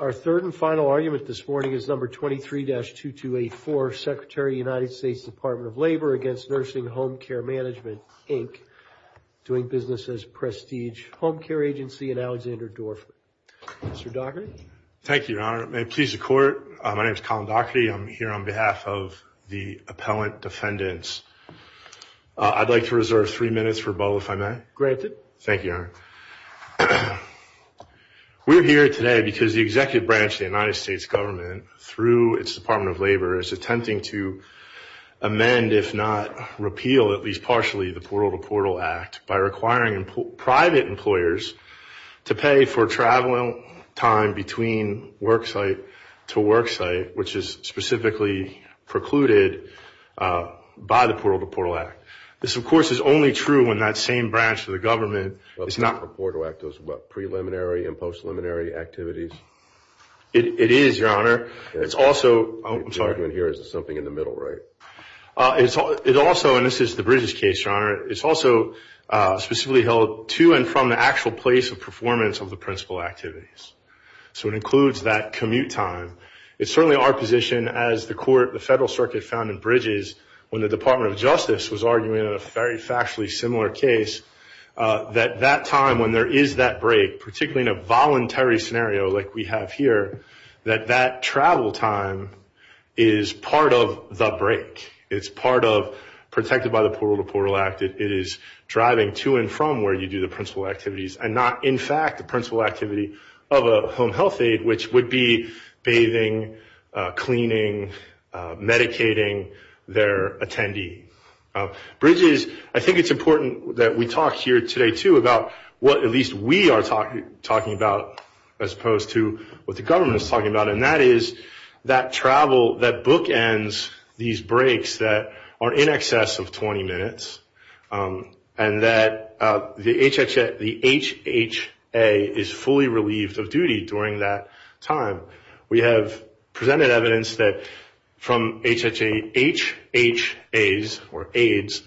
Our third and final argument this morning is number 23-2284, Secretary of the United States Department of Labor against NursingHomecaremanagement Inc, Doing Business as a Prestige Homecare Agency and Alexander Dorfman. Mr. Docherty. Thank you, Your Honor. It may please the Court. My name is Colin Docherty. I'm here on behalf of the appellant defendants. I'd like to reserve three minutes for both, if I may. Granted. Thank you, Your Honor. We're here today because the executive branch of the United States government, through its Department of Labor, is attempting to amend, if not repeal, at least partially, the Portal to Portal Act by requiring private employers to pay for travel time between worksite to worksite, which is specifically precluded by the Portal to Portal Act. This, of course, is only true when that same branch of the government is not... The Portal to Portal Act is what? Preliminary and post-preliminary activities? It is, Your Honor. It's also... I'm sorry. The argument here is it's something in the middle, right? It's also, and this is the Bridges case, Your Honor, it's also specifically held to and from the actual place of performance of the principal activities. So it includes that commute time. It's certainly our position, as the federal circuit found in Bridges when the Department of Justice was arguing a very factually similar case, that that time when there is that break, particularly in a voluntary scenario like we have here, that that travel time is part of the break. It's part of, protected by the Portal to Portal Act, it is driving to and from where you do the principal activities and not, in fact, the principal activity of a home health aide, which would be bathing, cleaning, medicating their attendee. Bridges, I think it's important that we talk here today, too, about what at least we are talking about as opposed to what the government is talking about, and that is that travel, that bookends these breaks that are in excess of 20 minutes, and that the HHA is fully relieved of duty during that time. We have presented evidence that from HHA, HHAs, or aides,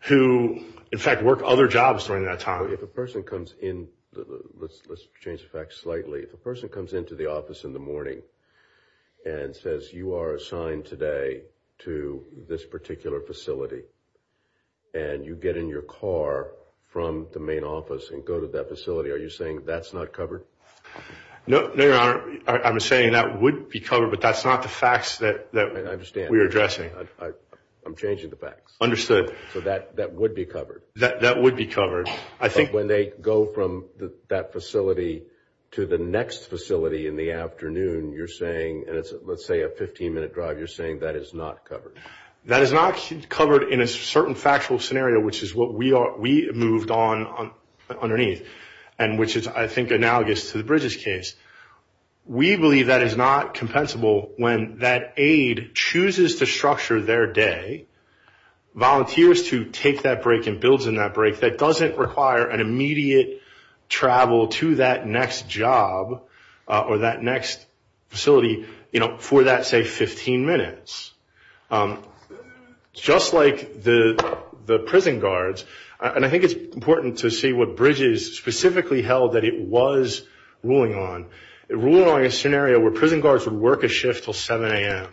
who, in fact, work other jobs during that time. If a person comes in, let's change the facts slightly, if a person comes into the office in the morning and says you are assigned today to this particular facility, and you get in your car from the main office and go to that facility, are you saying that's not covered? No, Your Honor. I'm saying that would be covered, but that's not the facts that we are addressing. I understand. I'm changing the facts. Understood. So that would be covered? That would be covered. But when they go from that facility to the next facility in the afternoon, you're saying, and it's, let's say, a 15-minute drive, you're saying that is not covered? That is not covered in a certain factual scenario, which is what we moved on underneath, and which is, I think, analogous to the Bridges case. We believe that is not compensable when that aide chooses to structure their day, volunteers to take that break and builds in that break, that doesn't require an immediate travel to that next job or that next facility for that, say, 15 minutes. Just like the prison guards, and I think it's important to see what Bridges specifically held that it was ruling on. It ruled on a scenario where prison guards would work a shift until 7 a.m.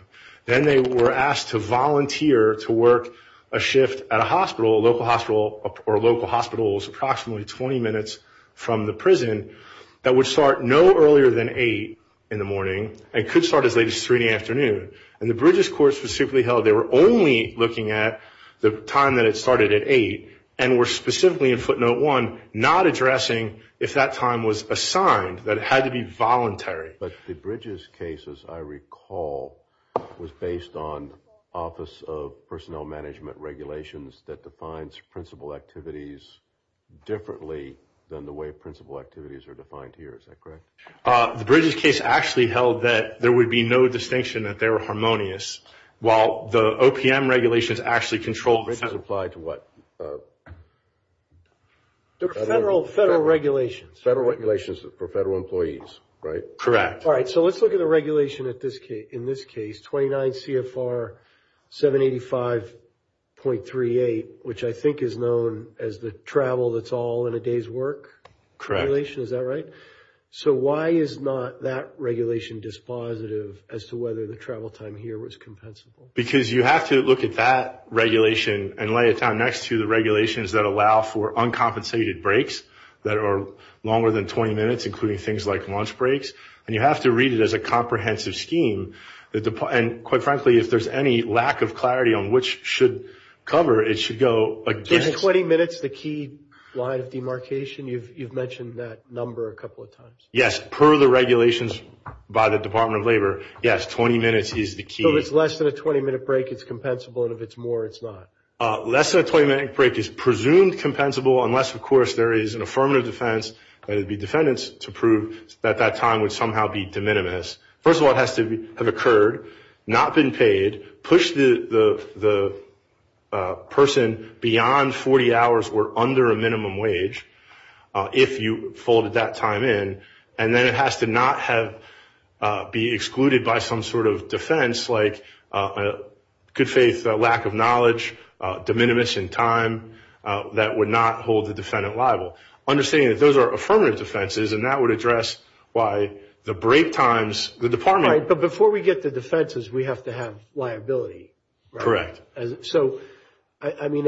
Then they were asked to volunteer to work a shift at a hospital, a local hospital or local hospitals approximately 20 minutes from the prison that would start no earlier than 8 in the morning and could start as late as 3 in the afternoon. And the Bridges court specifically held they were only looking at the time that it started at 8 and were specifically in footnote 1 not addressing if that time was assigned, that it had to be voluntary. But the Bridges case, as I recall, was based on Office of Personnel Management regulations that defines principal activities differently than the way principal activities are defined here. Is that correct? The Bridges case actually held that there would be no distinction that they were harmonious, while the OPM regulations actually controlled... Bridges applied to what? Federal regulations. Federal regulations for federal employees, right? Correct. All right, so let's look at the regulation in this case, 29 CFR 785.38, which I think is known as the travel that's all in a day's work. Correct. Is that right? So why is not that regulation dispositive as to whether the travel time here was compensable? Because you have to look at that regulation and lay it down next to the regulations that allow for uncompensated breaks that are longer than 20 minutes, including things like lunch breaks. And you have to read it as a comprehensive scheme. And quite frankly, if there's any lack of clarity on which should cover, it should go against... Is that the key line of demarcation? You've mentioned that number a couple of times. Yes. Per the regulations by the Department of Labor, yes, 20 minutes is the key. So if it's less than a 20-minute break, it's compensable, and if it's more, it's not? Less than a 20-minute break is presumed compensable unless, of course, there is an affirmative defense, and it would be defendants to prove that that time would somehow be de minimis. First of all, it has to have occurred, not been paid, pushed the person beyond 40 hours or under a minimum wage if you folded that time in, and then it has to not be excluded by some sort of defense like good faith, lack of knowledge, de minimis in time that would not hold the defendant liable. Understanding that those are affirmative defenses, and that would address why the break times, the department... Right, but before we get to defenses, we have to have liability. Correct. So, I mean,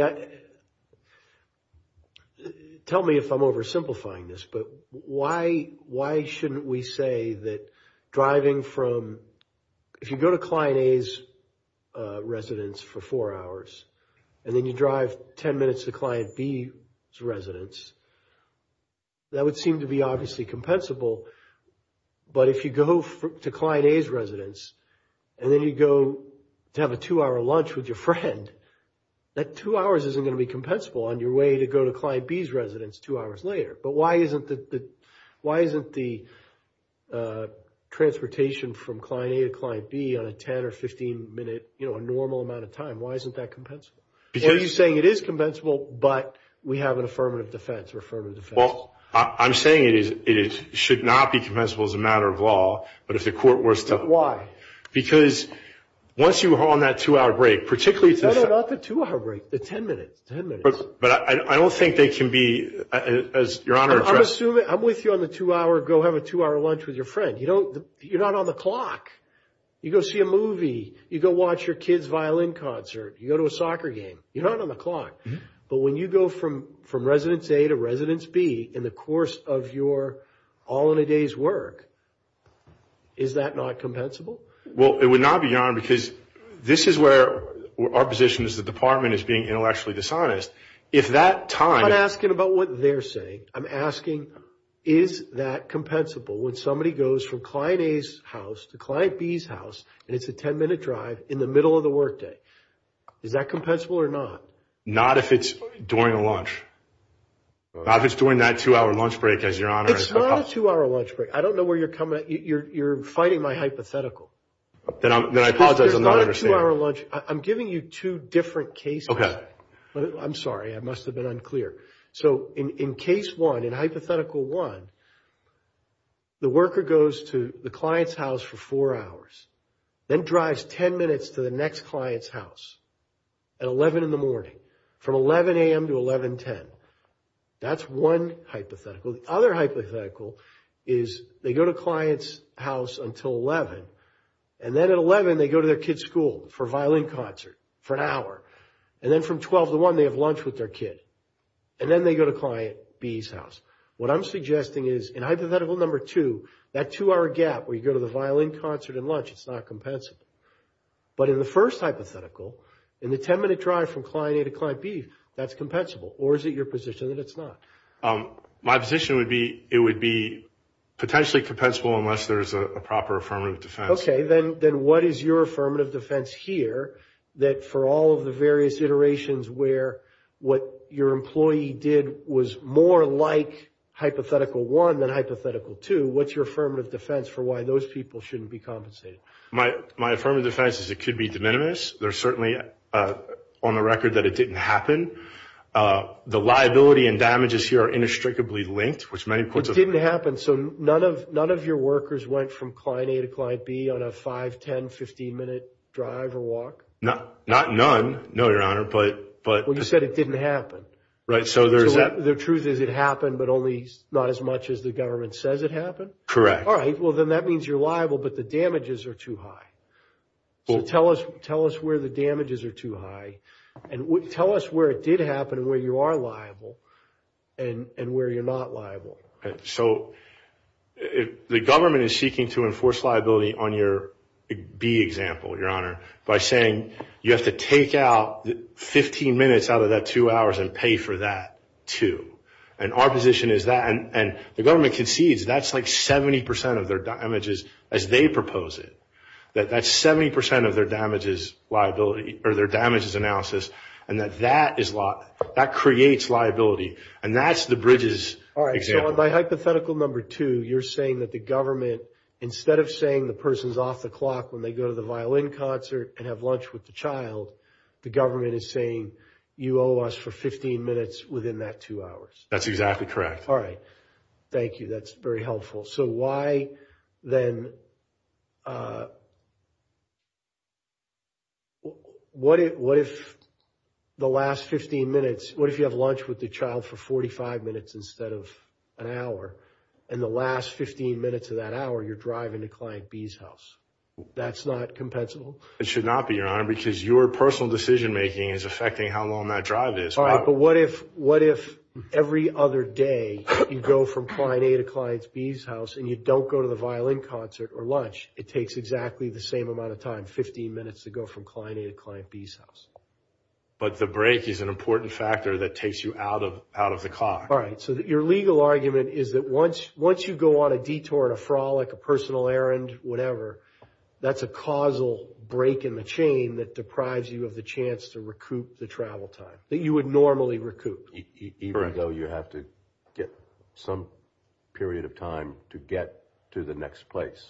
tell me if I'm oversimplifying this, but why shouldn't we say that driving from... residence for four hours, and then you drive 10 minutes to Client B's residence, that would seem to be obviously compensable, but if you go to Client A's residence, and then you go to have a two-hour lunch with your friend, that two hours isn't going to be compensable on your way to go to Client B's residence two hours later. But why isn't the transportation from Client A to Client B on a 10- or 15-minute normal amount of time, why isn't that compensable? Are you saying it is compensable, but we have an affirmative defense or affirmative defense? Well, I'm saying it should not be compensable as a matter of law, but if the court were still... Why? Because once you are on that two-hour break, particularly... No, no, not the two-hour break, the 10 minutes, 10 minutes. But I don't think they can be, as Your Honor... I'm assuming, I'm with you on the two-hour, go have a two-hour lunch with your friend. You're not on the clock. You go see a movie, you go watch your kid's violin concert, you go to a soccer game, you're not on the clock. But when you go from Residence A to Residence B in the course of your all-in-a-day's work, is that not compensable? Well, it would not be, Your Honor, because this is where our position as a department is being intellectually dishonest. If that time... I'm not asking about what they're saying. I'm asking, is that compensable when somebody goes from Client A's house to Client B's house, and it's a 10-minute drive in the middle of the workday? Is that compensable or not? Not if it's during a lunch. Not if it's during that two-hour lunch break, as Your Honor... It's not a two-hour lunch break. I don't know where you're coming at. You're fighting my hypothetical. Then I apologize. I'm not understanding. It's not a two-hour lunch. I'm giving you two different cases. Okay. I'm sorry. I must have been unclear. So in Case 1, in Hypothetical 1, the worker goes to the client's house for four hours, then drives 10 minutes to the next client's house at 11 in the morning, from 11 a.m. to 11.10. That's one hypothetical. The other hypothetical is they go to client's house until 11, and then at 11 they go to their kid's school for a violin concert for an hour, and then from 12 to 1 they have lunch with their kid, and then they go to Client B's house. What I'm suggesting is in Hypothetical 2, that two-hour gap where you go to the violin concert and lunch, it's not compensable. But in the first hypothetical, in the 10-minute drive from Client A to Client B, that's compensable. Or is it your position that it's not? My position would be it would be potentially compensable unless there's a proper affirmative defense. Okay. Then what is your affirmative defense here that for all of the various iterations where what your employee did was more like Hypothetical 1 than Hypothetical 2, what's your affirmative defense for why those people shouldn't be compensated? My affirmative defense is it could be de minimis. There's certainly on the record that it didn't happen. The liability and damages here are inextricably linked. It didn't happen. So none of your workers went from Client A to Client B on a 5, 10, 15-minute drive or walk? Not none. No, Your Honor. Well, you said it didn't happen. Right. So the truth is it happened, but only not as much as the government says it happened? Correct. All right. Well, then that means you're liable, but the damages are too high. Tell us where the damages are too high. Tell us where it did happen and where you are liable and where you're not liable. So the government is seeking to enforce liability on your B example, Your Honor, by saying you have to take out 15 minutes out of that 2 hours and pay for that 2. And our position is that. And the government concedes that's like 70% of their damages as they propose it, that that's 70% of their damages liability or their damages analysis, and that that creates liability. And that's the Bridges example. All right. So on my hypothetical number 2, you're saying that the government, instead of saying the person's off the clock when they go to the violin concert and have lunch with the child, the government is saying you owe us for 15 minutes within that 2 hours. That's exactly correct. All right. Thank you. That's very helpful. So why, then, what if the last 15 minutes, what if you have lunch with the child for 45 minutes instead of an hour, and the last 15 minutes of that hour you're driving to Client B's house? That's not compensable? It should not be, Your Honor, because your personal decision-making is affecting how long that drive is. All right. But what if every other day you go from Client A to Client B's house and you don't go to the violin concert or lunch? It takes exactly the same amount of time, 15 minutes to go from Client A to Client B's house. But the break is an important factor that takes you out of the clock. All right. So your legal argument is that once you go on a detour, a frolic, a personal errand, whatever, that you would normally recoup? Even though you have to get some period of time to get to the next place.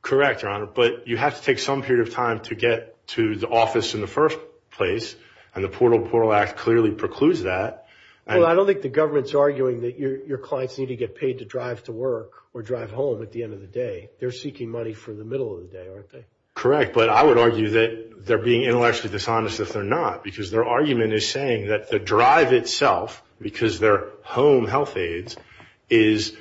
Correct, Your Honor, but you have to take some period of time to get to the office in the first place, and the Portal to Portal Act clearly precludes that. Well, I don't think the government's arguing that your clients need to get paid to drive to work or drive home at the end of the day. They're seeking money for the middle of the day, aren't they? Correct. But I would argue that they're being intellectually dishonest if they're not, because their argument is saying that the drive itself, because they're home health aides, is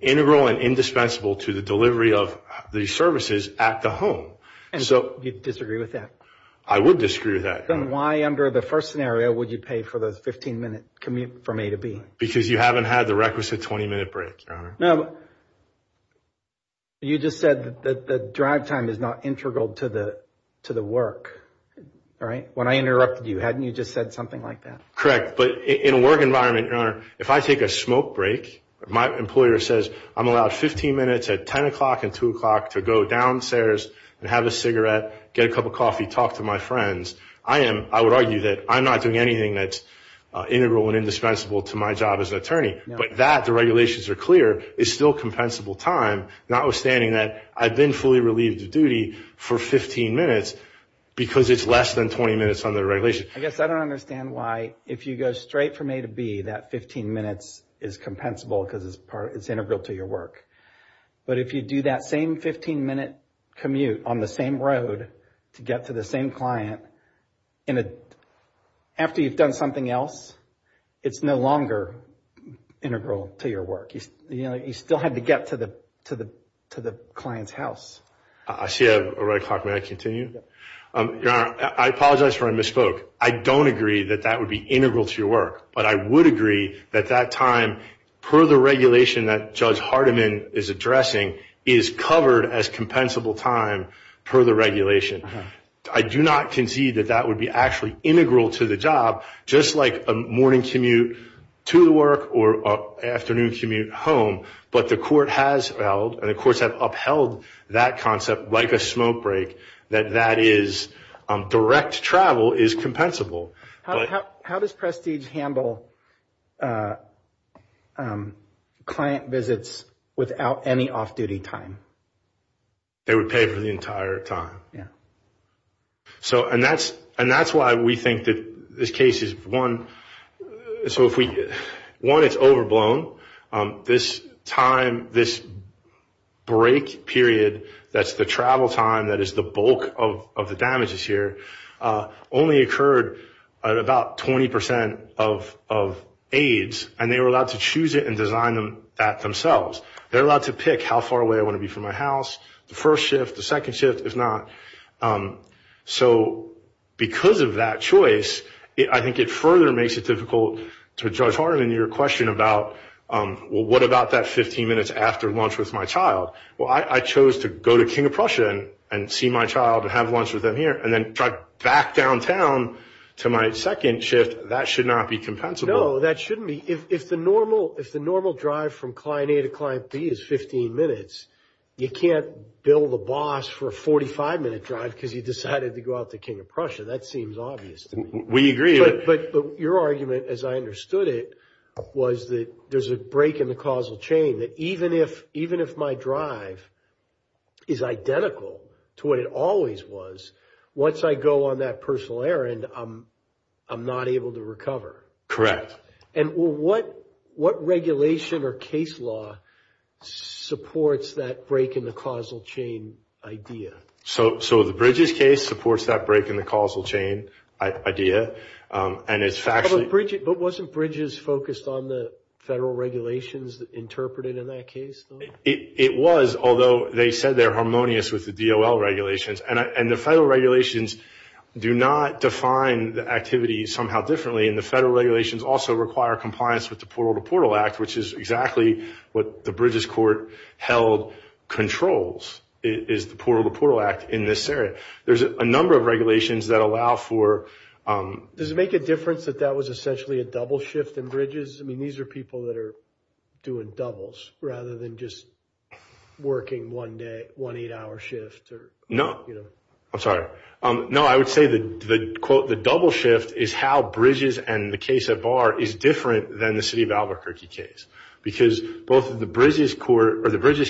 integral and indispensable to the delivery of these services at the home. And you'd disagree with that? I would disagree with that. Then why under the first scenario would you pay for the 15-minute commute from A to B? No, you just said that the drive time is not integral to the work, right? When I interrupted you, hadn't you just said something like that? Correct, but in a work environment, Your Honor, if I take a smoke break, my employer says I'm allowed 15 minutes at 10 o'clock and 2 o'clock to go downstairs and have a cigarette, get a cup of coffee, talk to my friends, I would argue that I'm not doing anything that's integral and indispensable to my job as an attorney. But that, the regulations are clear, is still compensable time, notwithstanding that I've been fully relieved of duty for 15 minutes because it's less than 20 minutes under the regulations. I guess I don't understand why, if you go straight from A to B, that 15 minutes is compensable because it's integral to your work. But if you do that same 15-minute commute on the same road to get to the same client, after you've done something else, it's no longer integral to your work. You still have to get to the client's house. I see I have a red clock. May I continue? Your Honor, I apologize for my misspoke. I don't agree that that would be integral to your work, but I would agree that that time, per the regulation that Judge Hardiman is addressing, is covered as compensable time per the regulation. I do not concede that that would be actually integral to the job, just like a morning commute to the work or an afternoon commute home. But the court has upheld that concept, like a smoke break, that direct travel is compensable. How does Prestige handle client visits without any off-duty time? They would pay for the entire time. And that's why we think that this case is, one, it's overblown. This time, this break period, that's the travel time, that is the bulk of the damages here, only occurred at about 20 percent of aides, and they were allowed to choose it and design that themselves. They're allowed to pick how far away I want to be from my house, the first shift, the second shift, if not. So because of that choice, I think it further makes it difficult for Judge Hardiman, your question about, well, what about that 15 minutes after lunch with my child? Well, I chose to go to King of Prussia and see my child and have lunch with them here and then drive back downtown to my second shift. That should not be compensable. No, that shouldn't be. If the normal drive from client A to client B is 15 minutes, you can't bill the boss for a 45-minute drive because you decided to go out to King of Prussia. That seems obvious to me. We agree. But your argument, as I understood it, was that there's a break in the causal chain, that even if my drive is identical to what it always was, once I go on that personal errand, I'm not able to recover. Correct. And what regulation or case law supports that break in the causal chain idea? So the Bridges case supports that break in the causal chain idea. But wasn't Bridges focused on the federal regulations interpreted in that case? It was, although they said they're harmonious with the DOL regulations. And the federal regulations do not define the activity somehow differently. And the federal regulations also require compliance with the Portal to Portal Act, which is exactly what the Bridges court held controls, is the Portal to Portal Act in this area. There's a number of regulations that allow for – Does it make a difference that that was essentially a double shift in Bridges? I mean, these are people that are doing doubles rather than just working one day, one eight-hour shift. No. I'm sorry. No, I would say the double shift is how Bridges and the case at Bar is different than the city of Albuquerque case. Because both the Bridges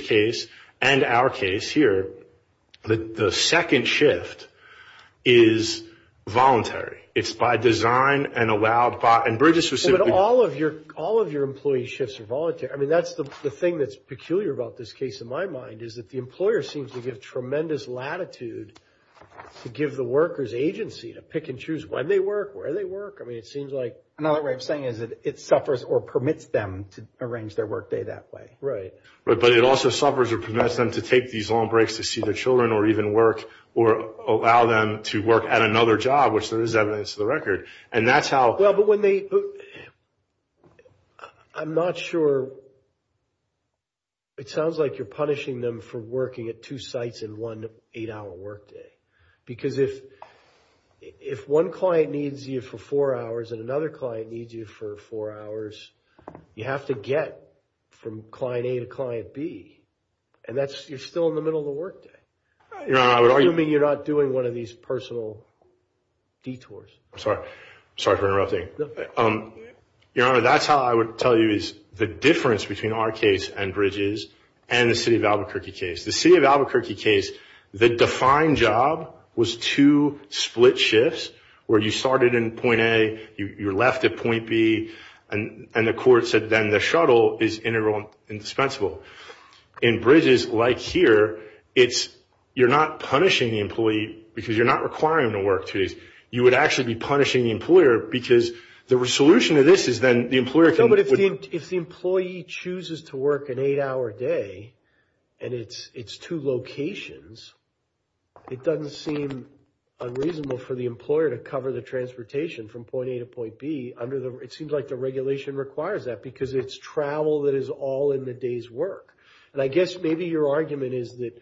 case and our case here, the second shift is voluntary. It's by design and allowed by – and Bridges was simply – But all of your employee shifts are voluntary. I mean, that's the thing that's peculiar about this case, in my mind, is that the employer seems to give tremendous latitude to give the worker's agency to pick and choose when they work, where they work. I mean, it seems like – Another way of saying it is it suffers or permits them to arrange their workday that way. Right. But it also suffers or permits them to take these long breaks to see their children or even work or allow them to work at another job, which there is evidence to the record. And that's how – Well, but when they – I'm not sure. It sounds like you're punishing them for working at two sites in one eight-hour workday. Because if one client needs you for four hours and another client needs you for four hours, you have to get from client A to client B. And that's – you're still in the middle of the workday. You're not doing one of these personal detours. I'm sorry. Sorry for interrupting. Your Honor, that's how I would tell you is the difference between our case and Bridges and the city of Albuquerque case. The city of Albuquerque case, the defined job was two split shifts where you started in point A, you're left at point B, and the court said then the shuttle is integral and dispensable. In Bridges, like here, it's – you're not punishing the employee because you're not requiring them to work two days. You would actually be punishing the employer because the solution to this is then the employer can – No, but if the employee chooses to work an eight-hour day and it's two locations, it doesn't seem unreasonable for the employer to cover the transportation from point A to point B under the – it seems like the regulation requires that because it's travel that is all in the day's work. And I guess maybe your argument is that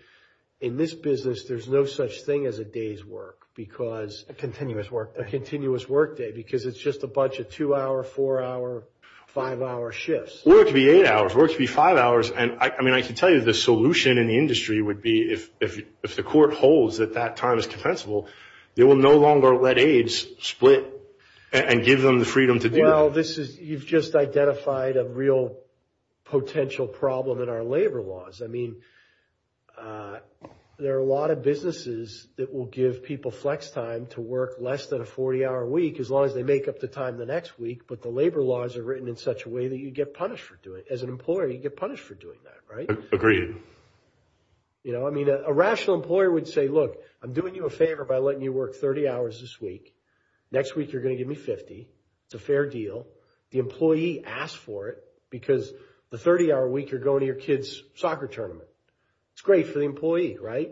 in this business there's no such thing as a day's work because – A continuous work day. A continuous work day because it's just a bunch of two-hour, four-hour, five-hour shifts. Well, it could be eight hours. It could be five hours. And, I mean, I can tell you the solution in the industry would be if the court holds that that time is compensable, they will no longer let aides split and give them the freedom to do it. Well, this is – you've just identified a real potential problem in our labor laws. I mean, there are a lot of businesses that will give people flex time to work less than a 40-hour week as long as they make up the time the next week, but the labor laws are written in such a way that you get punished for doing it. As an employer, you get punished for doing that, right? Agreed. You know, I mean, a rational employer would say, look, I'm doing you a favor by letting you work 30 hours this week. Next week you're going to give me 50. It's a fair deal. The employee asked for it because the 30-hour week you're going to your kid's soccer tournament. It's great for the employee, right?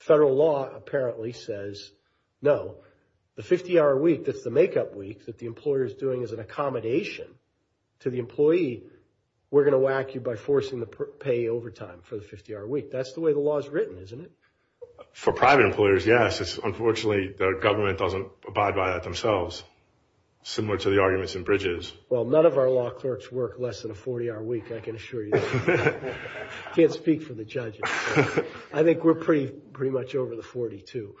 Federal law apparently says no. The 50-hour week that's the make-up week that the employer is doing is an accommodation to the employee. We're going to whack you by forcing the pay overtime for the 50-hour week. That's the way the law is written, isn't it? For private employers, yes. Unfortunately, the government doesn't abide by that themselves, similar to the arguments in Bridges. Well, none of our law clerks work less than a 40-hour week, I can assure you. I can't speak for the judges. I think we're pretty much over the 40, too.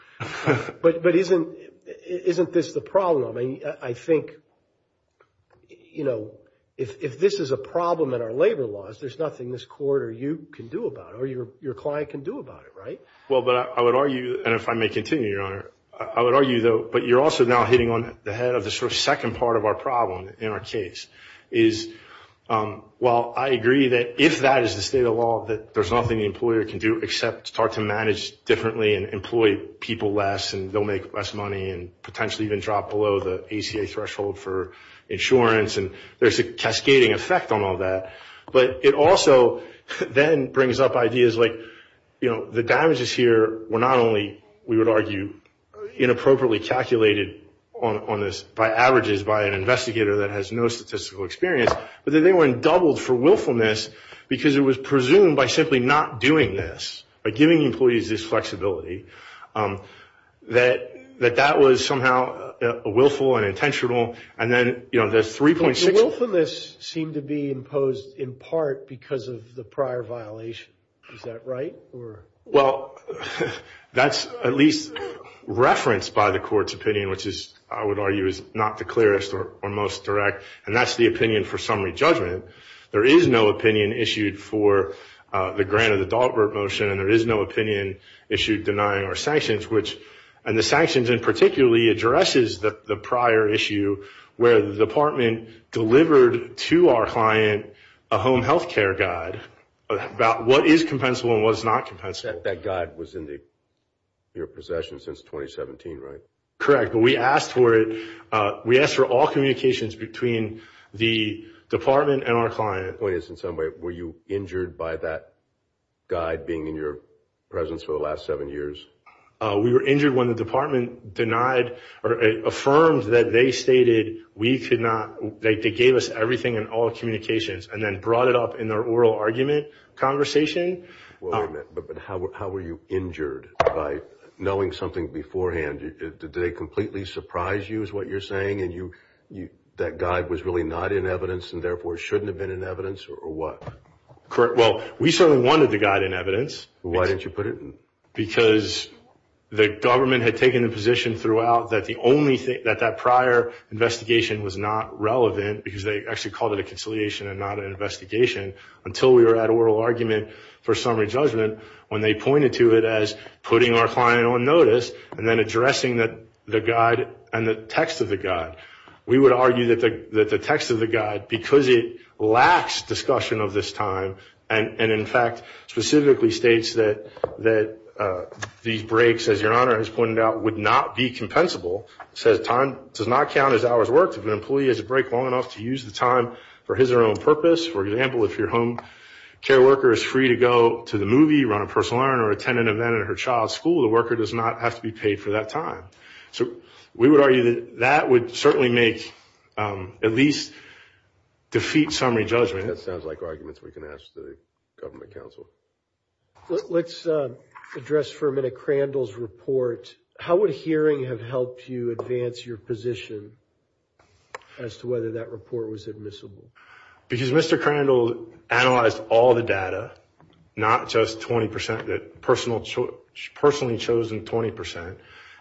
But isn't this the problem? I mean, I think, you know, if this is a problem in our labor laws, there's nothing this court or you can do about it, or your client can do about it, right? Well, but I would argue, and if I may continue, Your Honor, I would argue, though, but you're also now hitting on the head of the sort of second part of our problem in our case, is while I agree that if that is the state of the law, that there's nothing the employer can do except start to manage differently and employ people less, and they'll make less money, and potentially even drop below the ACA threshold for insurance, and there's a cascading effect on all that. But it also then brings up ideas like, you know, the damages here were not only, we would argue, inappropriately calculated on this by averages by an investigator that has no statistical experience, but that they were doubled for willfulness because it was presumed by simply not doing this, by giving employees this flexibility, that that was somehow willful and intentional. And then, you know, there's 3.6. The willfulness seemed to be imposed in part because of the prior violation. Is that right? Well, that's at least referenced by the court's opinion, which is, I would argue, is not the clearest or most direct, and that's the opinion for summary judgment. There is no opinion issued for the grant of the Dalbert motion, and there is no opinion issued denying our sanctions, and the sanctions in particular addresses the prior issue where the department delivered to our client a home health care guide about what is compensable and what is not compensable. That guide was in your possession since 2017, right? Correct, but we asked for it, we asked for all communications between the department and our client. My point is, in some way, were you injured by that guide being in your presence for the last seven years? We were injured when the department denied or affirmed that they stated we could not, they gave us everything in all communications and then brought it up in their oral argument conversation. But how were you injured by knowing something beforehand? Did they completely surprise you is what you're saying, and that guide was really not in evidence and therefore shouldn't have been in evidence, or what? Well, we certainly wanted the guide in evidence. Why didn't you put it in? Because the government had taken the position throughout that that prior investigation was not relevant, because they actually called it a conciliation and not an investigation, until we were at oral argument for summary judgment when they pointed to it as putting our client on notice and then addressing the guide and the text of the guide. We would argue that the text of the guide, because it lacks discussion of this time and in fact specifically states that these breaks, as your Honor has pointed out, would not be compensable, says time does not count as hours worked if an employee has a break long enough to use the time for his or her own purpose. For example, if your home care worker is free to go to the movie, run a personal errand, or attend an event at her child's school, the worker does not have to be paid for that time. So we would argue that that would certainly make, at least defeat summary judgment. That sounds like arguments we can ask the government counsel. Let's address for a minute Crandall's report. How would hearing have helped you advance your position as to whether that report was admissible? Because Mr. Crandall analyzed all the data, not just 20%, the personally chosen 20%,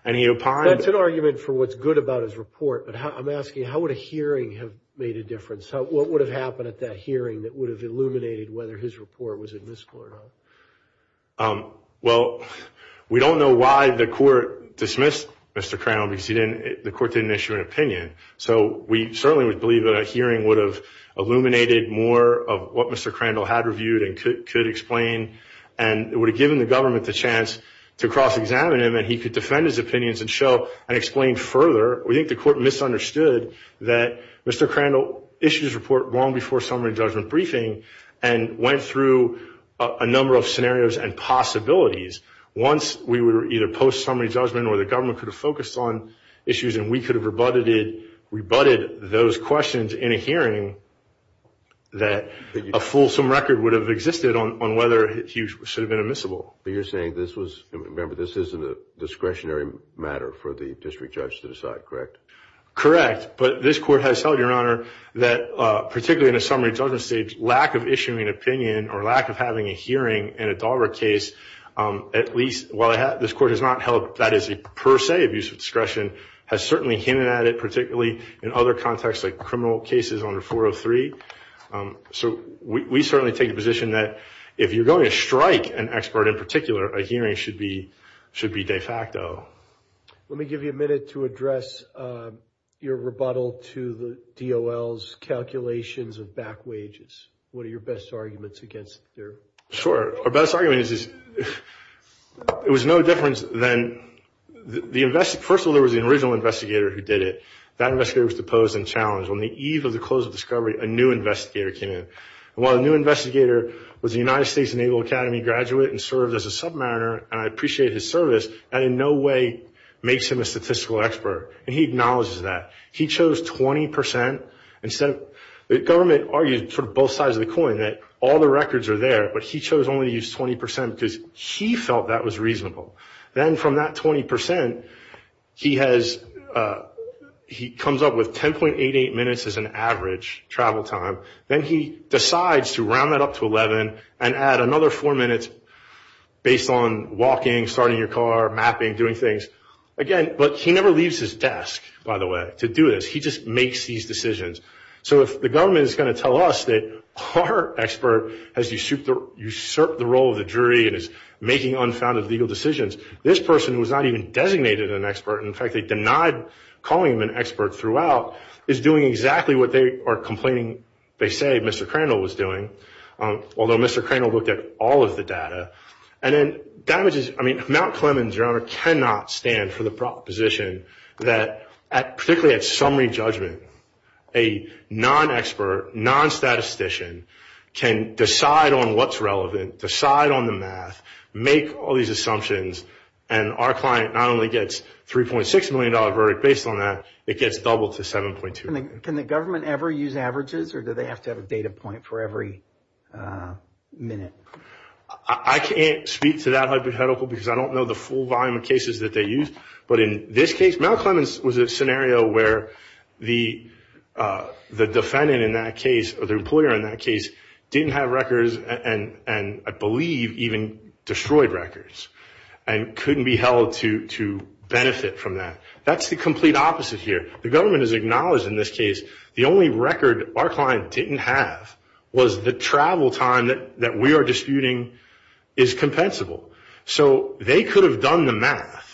and he opined- That's an argument for what's good about his report, but I'm asking how would a hearing have made a difference? What would have happened at that hearing that would have illuminated whether his report was admissible or not? Well, we don't know why the court dismissed Mr. Crandall because the court didn't issue an opinion. So we certainly would believe that a hearing would have illuminated more of what Mr. Crandall had reviewed and could explain and would have given the government the chance to cross-examine him and he could defend his opinions and show and explain further. We think the court misunderstood that Mr. Crandall issued his report long before summary judgment briefing and went through a number of scenarios and possibilities. Once we were either post-summary judgment or the government could have focused on issues and we could have rebutted those questions in a hearing, that a fulsome record would have existed on whether he should have been admissible. But you're saying this was, remember this isn't a discretionary matter for the district judge to decide, correct? Correct, but this court has held, Your Honor, that particularly in a summary judgment stage, lack of issuing an opinion or lack of having a hearing in a Dahlberg case, at least while this court has not held that is a per se abuse of discretion, has certainly hinted at it particularly in other contexts like criminal cases under 403. So we certainly take the position that if you're going to strike an expert in particular, a hearing should be de facto. Let me give you a minute to address your rebuttal to the DOL's calculations of back wages. What are your best arguments against their? Sure. Our best argument is it was no difference than, first of all, there was an original investigator who did it. That investigator was deposed and challenged. On the eve of the close of discovery, a new investigator came in. While the new investigator was a United States Naval Academy graduate and served as a submariner, and I appreciate his service, that in no way makes him a statistical expert. And he acknowledges that. He chose 20%. The government argued for both sides of the coin that all the records are there, but he chose only to use 20% because he felt that was reasonable. Then from that 20%, he comes up with 10.88 minutes as an average travel time. Then he decides to round that up to 11 and add another four minutes based on walking, starting your car, mapping, doing things. Again, but he never leaves his desk, by the way, to do this. He just makes these decisions. So if the government is going to tell us that our expert has usurped the role of the jury and is making unfounded legal decisions, this person, who was not even designated an expert, and in fact they denied calling him an expert throughout, is doing exactly what they are complaining, they say, Mr. Crandall was doing, although Mr. Crandall looked at all of the data. I mean, Mount Clemens, Your Honor, cannot stand for the proposition that, particularly at summary judgment, a non-expert, non-statistician can decide on what's relevant, decide on the math, make all these assumptions, and our client not only gets a $3.6 million verdict based on that, it gets doubled to 7.2. Can the government ever use averages or do they have to have a data point for every minute? I can't speak to that hypothetical because I don't know the full volume of cases that they use, but in this case, Mount Clemens was a scenario where the defendant in that case, or the employer in that case, didn't have records and I believe even destroyed records and couldn't be held to benefit from that. That's the complete opposite here. The government has acknowledged in this case the only record our client didn't have was the travel time that we are disputing is compensable. So they could have done the math.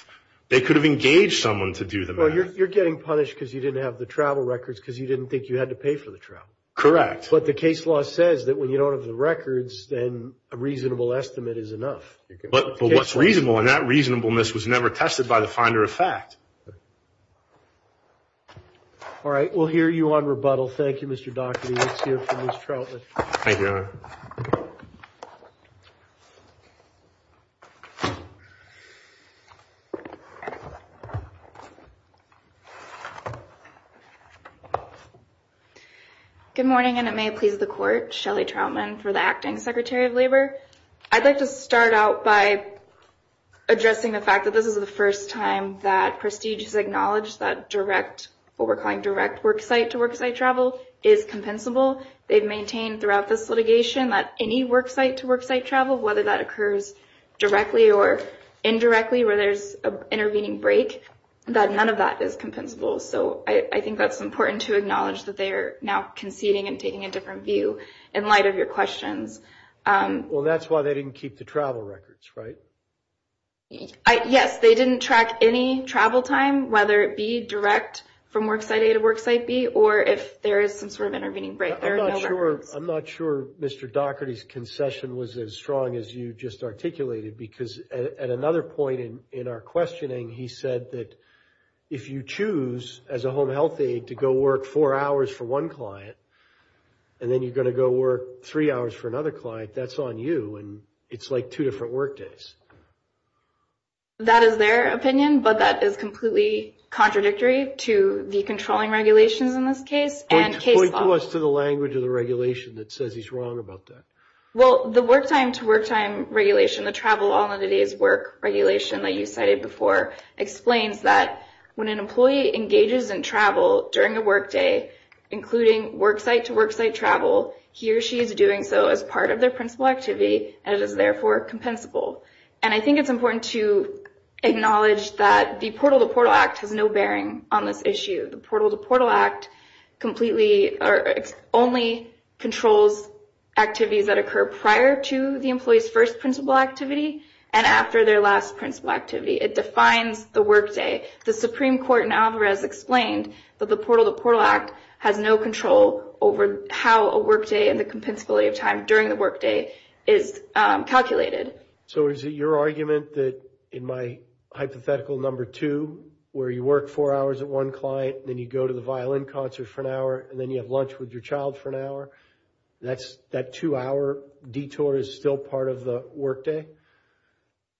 They could have engaged someone to do the math. Well, you're getting punished because you didn't have the travel records because you didn't think you had to pay for the travel. Correct. But the case law says that when you don't have the records, then a reasonable estimate is enough. But what's reasonable, and that reasonableness was never tested by the finder of fact. All right, we'll hear you on rebuttal. Thank you, Mr. Daugherty. Let's hear from Ms. Troutman. Thank you, Your Honor. Good morning, and it may please the Court. Shelley Troutman for the Acting Secretary of Labor. I'd like to start out by addressing the fact that this is the first time that Prestige has acknowledged that what we're calling direct worksite-to-worksite travel is compensable. They've maintained throughout this litigation that any worksite-to-worksite travel, whether that occurs directly or indirectly where there's an intervening break, that none of that is compensable. So I think that's important to acknowledge that they are now conceding and taking a different view in light of your questions. Well, that's why they didn't keep the travel records, right? Yes, they didn't track any travel time, whether it be direct from worksite A to worksite B or if there is some sort of intervening break. I'm not sure Mr. Daugherty's concession was as strong as you just articulated because at another point in our questioning, he said that if you choose, as a home health aide, to go work four hours for one client and then you're going to go work three hours for another client, that's on you and it's like two different work days. That is their opinion, but that is completely contradictory to the controlling regulations in this case and case law. Point to us to the language of the regulation that says he's wrong about that. Well, the work time-to-work time regulation, the travel all in a day's work regulation that you cited before, explains that when an employee engages in travel during a work day, including worksite-to-worksite travel, he or she is doing so as part of their principal activity and it is therefore compensable. I think it's important to acknowledge that the Portal-to-Portal Act has no bearing on this issue. The Portal-to-Portal Act only controls activities that occur prior to the employee's first principal activity and after their last principal activity. It defines the work day. The Supreme Court in Alvarez explained that the Portal-to-Portal Act has no control over how a work day and the compensability of time during the work day is calculated. So is it your argument that in my hypothetical number two, where you work four hours at one client and then you go to the violin concert for an hour and then you have lunch with your child for an hour, that two-hour detour is still part of the work day?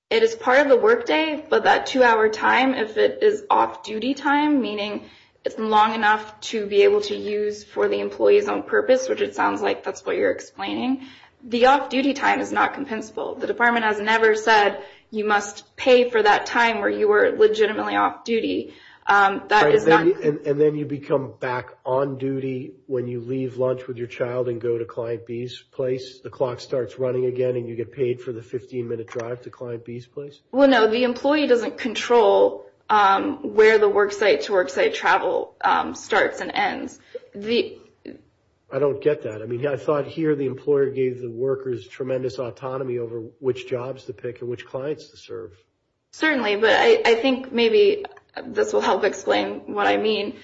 It is part of the work day, but that two-hour time, if it is off-duty time, meaning it's long enough to be able to use for the employee's own purpose, which it sounds like that's what you're explaining, the off-duty time is not compensable. The department has never said you must pay for that time where you were legitimately off-duty. And then you become back on duty when you leave lunch with your child and go to Client B's place? The clock starts running again and you get paid for the 15-minute drive to Client B's place? Well, no, the employee doesn't control where the worksite-to-worksite travel starts and ends. I don't get that. I mean, I thought here the employer gave the workers tremendous autonomy over which jobs to pick and which clients to serve. Certainly, but I think maybe this will help explain what I mean.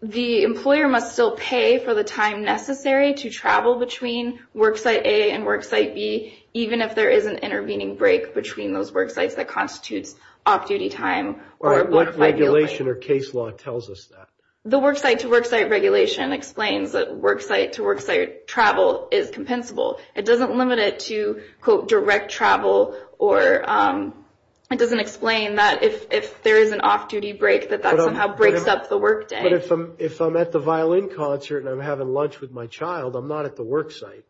The employer must still pay for the time necessary to travel between worksite A and worksite B, even if there is an intervening break between those worksites that constitutes off-duty time. All right, what regulation or case law tells us that? The worksite-to-worksite regulation explains that worksite-to-worksite travel is compensable. It doesn't limit it to, quote, direct travel, or it doesn't explain that if there is an off-duty break that that somehow breaks up the workday. But if I'm at the violin concert and I'm having lunch with my child, I'm not at the worksite.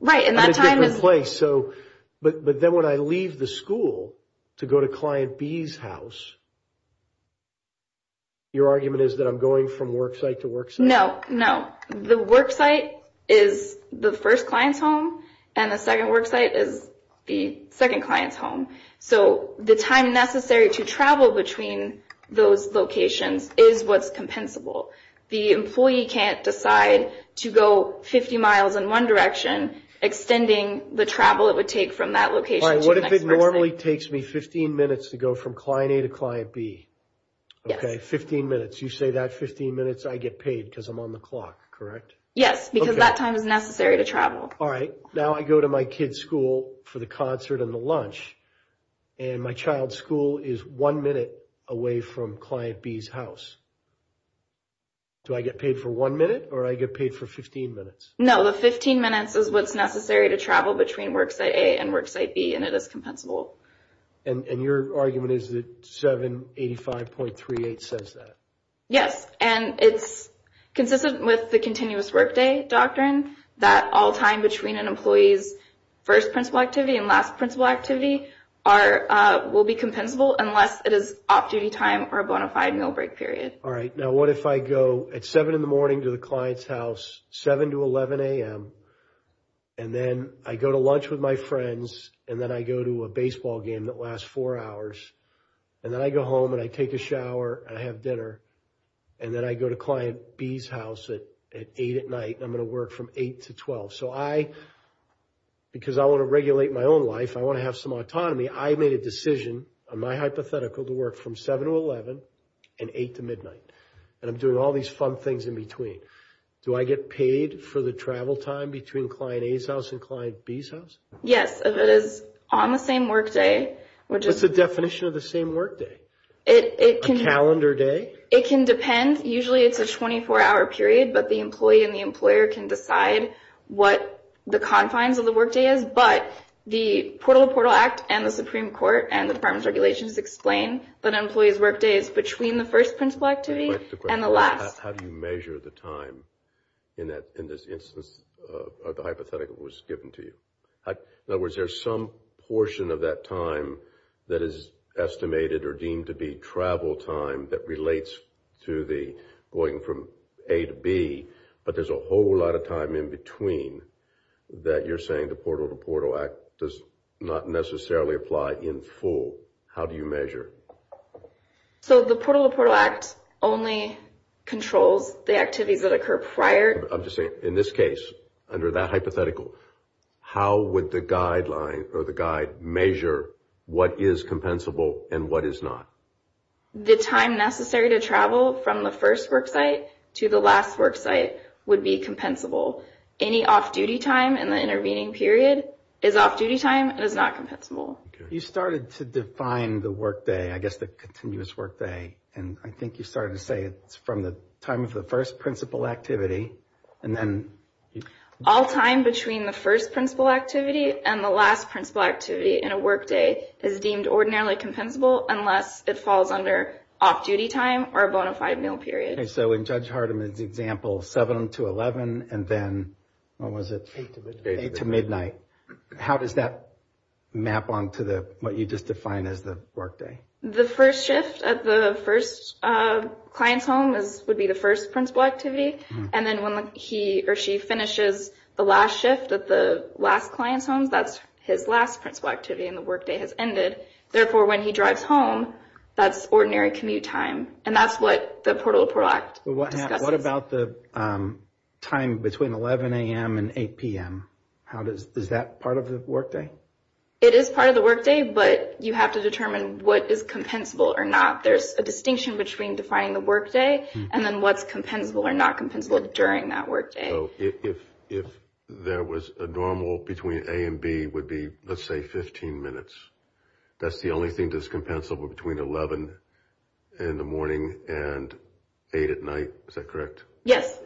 Right, and that time is- But it's a different place. But then when I leave the school to go to client B's house, your argument is that I'm going from worksite-to-worksite? No, no. The worksite is the first client's home, and the second worksite is the second client's home. So the time necessary to travel between those locations is what's compensable. The employee can't decide to go 50 miles in one direction, extending the travel it would take from that location to the next worksite. All right, what if it normally takes me 15 minutes to go from client A to client B? Yes. Okay, 15 minutes. You say that 15 minutes I get paid because I'm on the clock, correct? Yes, because that time is necessary to travel. All right. Now I go to my kid's school for the concert and the lunch, and my child's school is one minute away from client B's house. Do I get paid for one minute, or do I get paid for 15 minutes? No, the 15 minutes is what's necessary to travel between worksite A and worksite B, and it is compensable. And your argument is that 785.38 says that? Yes, and it's consistent with the continuous workday doctrine, that all time between an employee's first principal activity and last principal activity will be compensable unless it is off-duty time or a bona fide meal break period. All right. Now what if I go at 7 in the morning to the client's house, 7 to 11 a.m., and then I go to lunch with my friends, and then I go to a baseball game that lasts four hours, and then I go home and I take a shower and I have dinner, and then I go to client B's house at 8 at night, and I'm going to work from 8 to 12. So I, because I want to regulate my own life, I want to have some autonomy, I made a decision on my hypothetical to work from 7 to 11 and 8 to midnight, and I'm doing all these fun things in between. Do I get paid for the travel time between client A's house and client B's house? Yes, if it is on the same workday. What's the definition of the same workday? A calendar day? It can depend. Usually it's a 24-hour period, but the employee and the employer can decide what the confines of the workday is. But the Portal to Portal Act and the Supreme Court and the Department of Regulations explain that an employee's workday is between the first principal activity and the last. How do you measure the time in this instance of the hypothetical that was given to you? In other words, there's some portion of that time that is estimated or deemed to be travel time that relates to the going from A to B, but there's a whole lot of time in between that you're saying the Portal to Portal Act does not necessarily apply in full. How do you measure? So the Portal to Portal Act only controls the activities that occur prior. I'm just saying, in this case, under that hypothetical, how would the guideline or the guide measure what is compensable and what is not? The time necessary to travel from the first worksite to the last worksite would be compensable. Any off-duty time in the intervening period is off-duty time and is not compensable. You started to define the workday, I guess the continuous workday, and I think you started to say it's from the time of the first principal activity. All time between the first principal activity and the last principal activity in a workday is deemed ordinarily compensable unless it falls under off-duty time or a bona fide meal period. So in Judge Hardeman's example, 7 to 11, and then what was it? 8 to midnight. How does that map onto what you just defined as the workday? The first shift at the first client's home would be the first principal activity, and then when he or she finishes the last shift at the last client's home, that's his last principal activity and the workday has ended. Therefore, when he drives home, that's ordinary commute time, and that's what the Portal to Portal Act discusses. What about the time between 11 a.m. and 8 p.m.? Is that part of the workday? It is part of the workday, but you have to determine what is compensable or not. There's a distinction between defining the workday and then what's compensable or not compensable during that workday. If there was a normal between A and B would be, let's say, 15 minutes, that's the only thing that's compensable between 11 in the morning and 8 at night? Is that correct? Yes.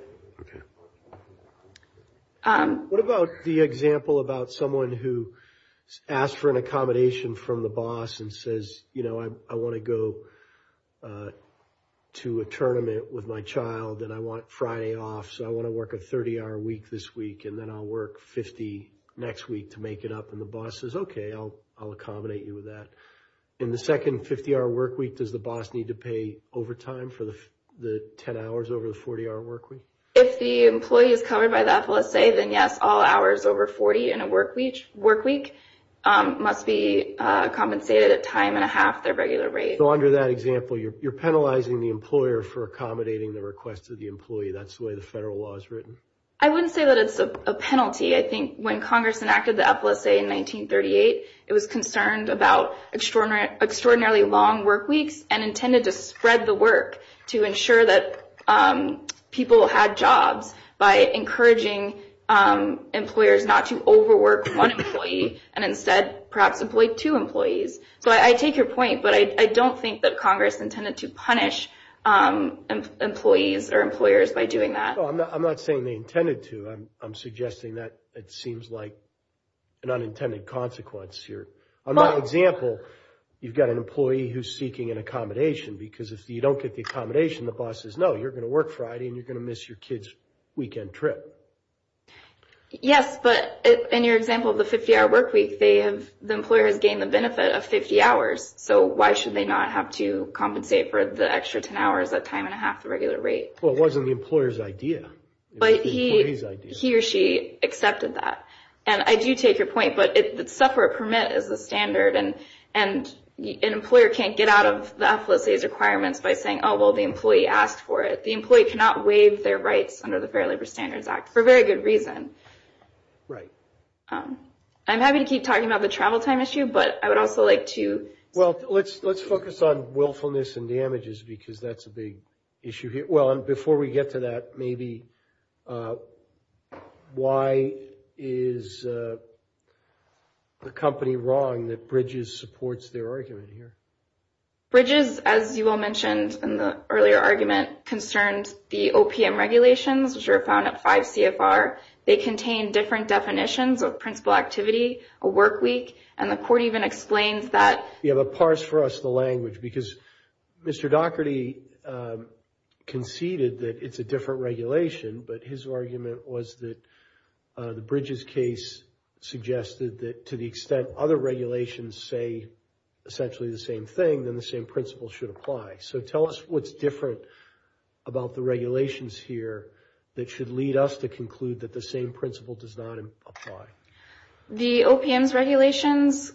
What about the example about someone who asked for an accommodation from the boss and says, you know, I want to go to a tournament with my child, and I want Friday off, so I want to work a 30-hour week this week, and then I'll work 50 next week to make it up, and the boss says, okay, I'll accommodate you with that. In the second 50-hour workweek, does the boss need to pay overtime for the 10 hours over the 40-hour workweek? If the employee is covered by the FLSA, then yes, all hours over 40 in a workweek must be compensated at time and a half their regular rate. So under that example, you're penalizing the employer for accommodating the request of the employee. That's the way the federal law is written. I wouldn't say that it's a penalty. I think when Congress enacted the FLSA in 1938, it was concerned about extraordinarily long workweeks and intended to spread the work to ensure that people had jobs by encouraging employers not to overwork one employee and instead perhaps employ two employees. So I take your point, but I don't think that Congress intended to punish employees or employers by doing that. No, I'm not saying they intended to. I'm suggesting that it seems like an unintended consequence here. On that example, you've got an employee who's seeking an accommodation because if you don't get the accommodation, the boss says, oh, you're going to work Friday and you're going to miss your kid's weekend trip. Yes, but in your example of the 50-hour workweek, the employer has gained the benefit of 50 hours, so why should they not have to compensate for the extra 10 hours at time and a half the regular rate? Well, it wasn't the employer's idea. It was the employee's idea. But he or she accepted that. And I do take your point, but the sufferer permit is the standard, and an employer can't get out of the FLSA's requirements by saying, oh, well, the employee asked for it. The employee cannot waive their rights under the Fair Labor Standards Act for very good reason. Right. I'm happy to keep talking about the travel time issue, but I would also like to. Well, let's focus on willfulness and damages because that's a big issue here. Well, and before we get to that, maybe why is the company wrong that Bridges supports their argument here? Bridges, as you all mentioned in the earlier argument, concerns the OPM regulations, which are found at 5 CFR. They contain different definitions of principal activity, a workweek, and the court even explains that. Yeah, but parse for us the language because Mr. Doherty conceded that it's a different regulation, but his argument was that the Bridges case suggested that to the extent other regulations say essentially the same thing, then the same principle should apply. So tell us what's different about the regulations here that should lead us to conclude that the same principle does not apply. The OPM's regulations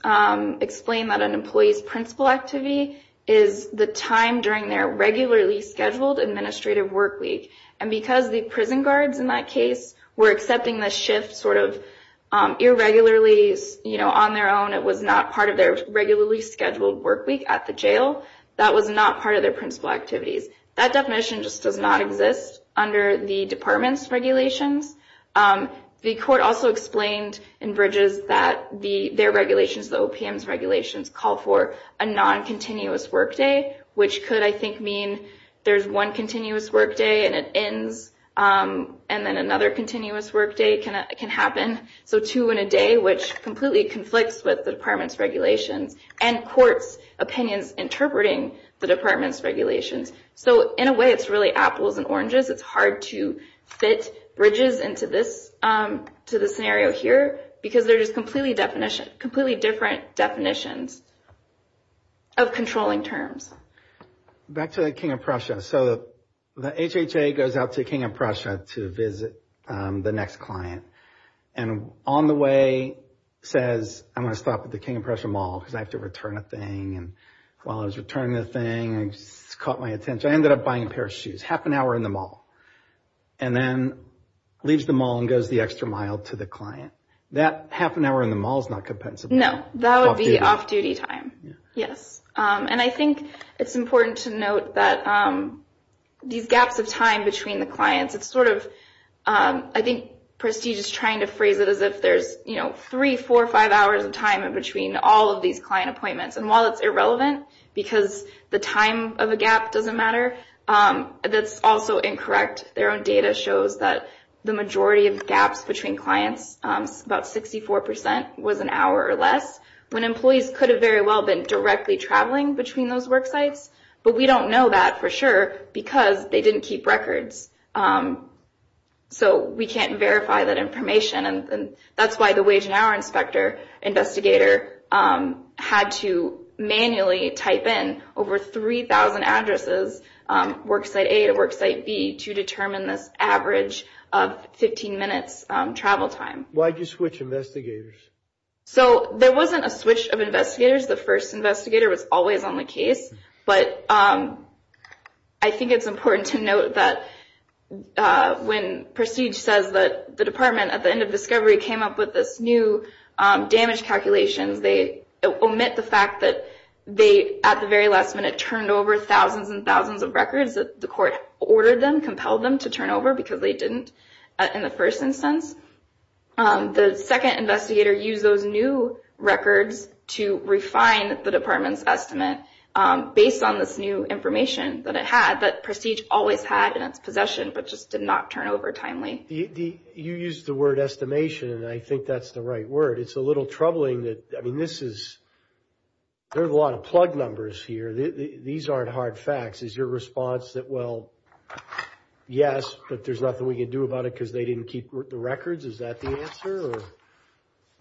explain that an employee's principal activity is the time during their regularly scheduled administrative workweek, and because the prison guards in that case were accepting the shift sort of irregularly, it was not part of their regularly scheduled workweek at the jail. That was not part of their principal activities. That definition just does not exist under the department's regulations. The court also explained in Bridges that their regulations, the OPM's regulations, call for a non-continuous workday, which could, I think, mean there's one continuous workday and it ends, and then another continuous workday can happen. So two in a day, which completely conflicts with the department's regulations, and courts' opinions interpreting the department's regulations. So in a way, it's really apples and oranges. It's hard to fit Bridges into the scenario here because they're just completely different definitions of controlling terms. Back to the King of Prussia. So the HHA goes out to the King of Prussia to visit the next client, and on the way says, I'm going to stop at the King of Prussia mall because I have to return a thing, and while I was returning the thing, it caught my attention. I ended up buying a pair of shoes, half an hour in the mall, and then leaves the mall and goes the extra mile to the client. That half an hour in the mall is not compensable. No, that would be off-duty time, yes. And I think it's important to note that these gaps of time between the clients, it's sort of, I think, prestigious trying to phrase it as if there's three, four, five hours of time in between all of these client appointments, and while it's irrelevant because the time of a gap doesn't matter, that's also incorrect. Their own data shows that the majority of gaps between clients, about 64%, was an hour or less, when employees could have very well been directly traveling between those work sites, but we don't know that for sure because they didn't keep records. So we can't verify that information, and that's why the wage and hour inspector investigator had to manually type in over 3,000 addresses, work site A to work site B, to determine this average of 15 minutes travel time. Why did you switch investigators? So there wasn't a switch of investigators. The first investigator was always on the case, but I think it's important to note that when Prestige says that the department at the end of discovery came up with this new damage calculations, they omit the fact that they, at the very last minute, turned over thousands and thousands of records that the court ordered them, compelled them to turn over because they didn't in the first instance. The second investigator used those new records to refine the department's estimate based on this new information that it had, that Prestige always had in its possession, but just did not turn over timely. You used the word estimation, and I think that's the right word. It's a little troubling that, I mean, this is, there are a lot of plug numbers here. These aren't hard facts. Is your response that, well, yes, but there's nothing we can do about it because they didn't keep the records? Is that the answer?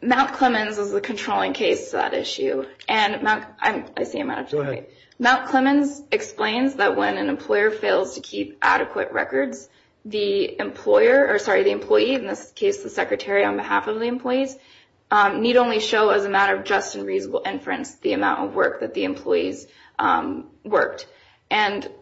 Mount Clemens is the controlling case to that issue. I see you, Matt. Go ahead. Mount Clemens explains that when an employer fails to keep adequate records, the employer, or sorry, the employee, in this case the secretary on behalf of the employees, need only show as a matter of just and reasonable inference the amount of work that the employees worked.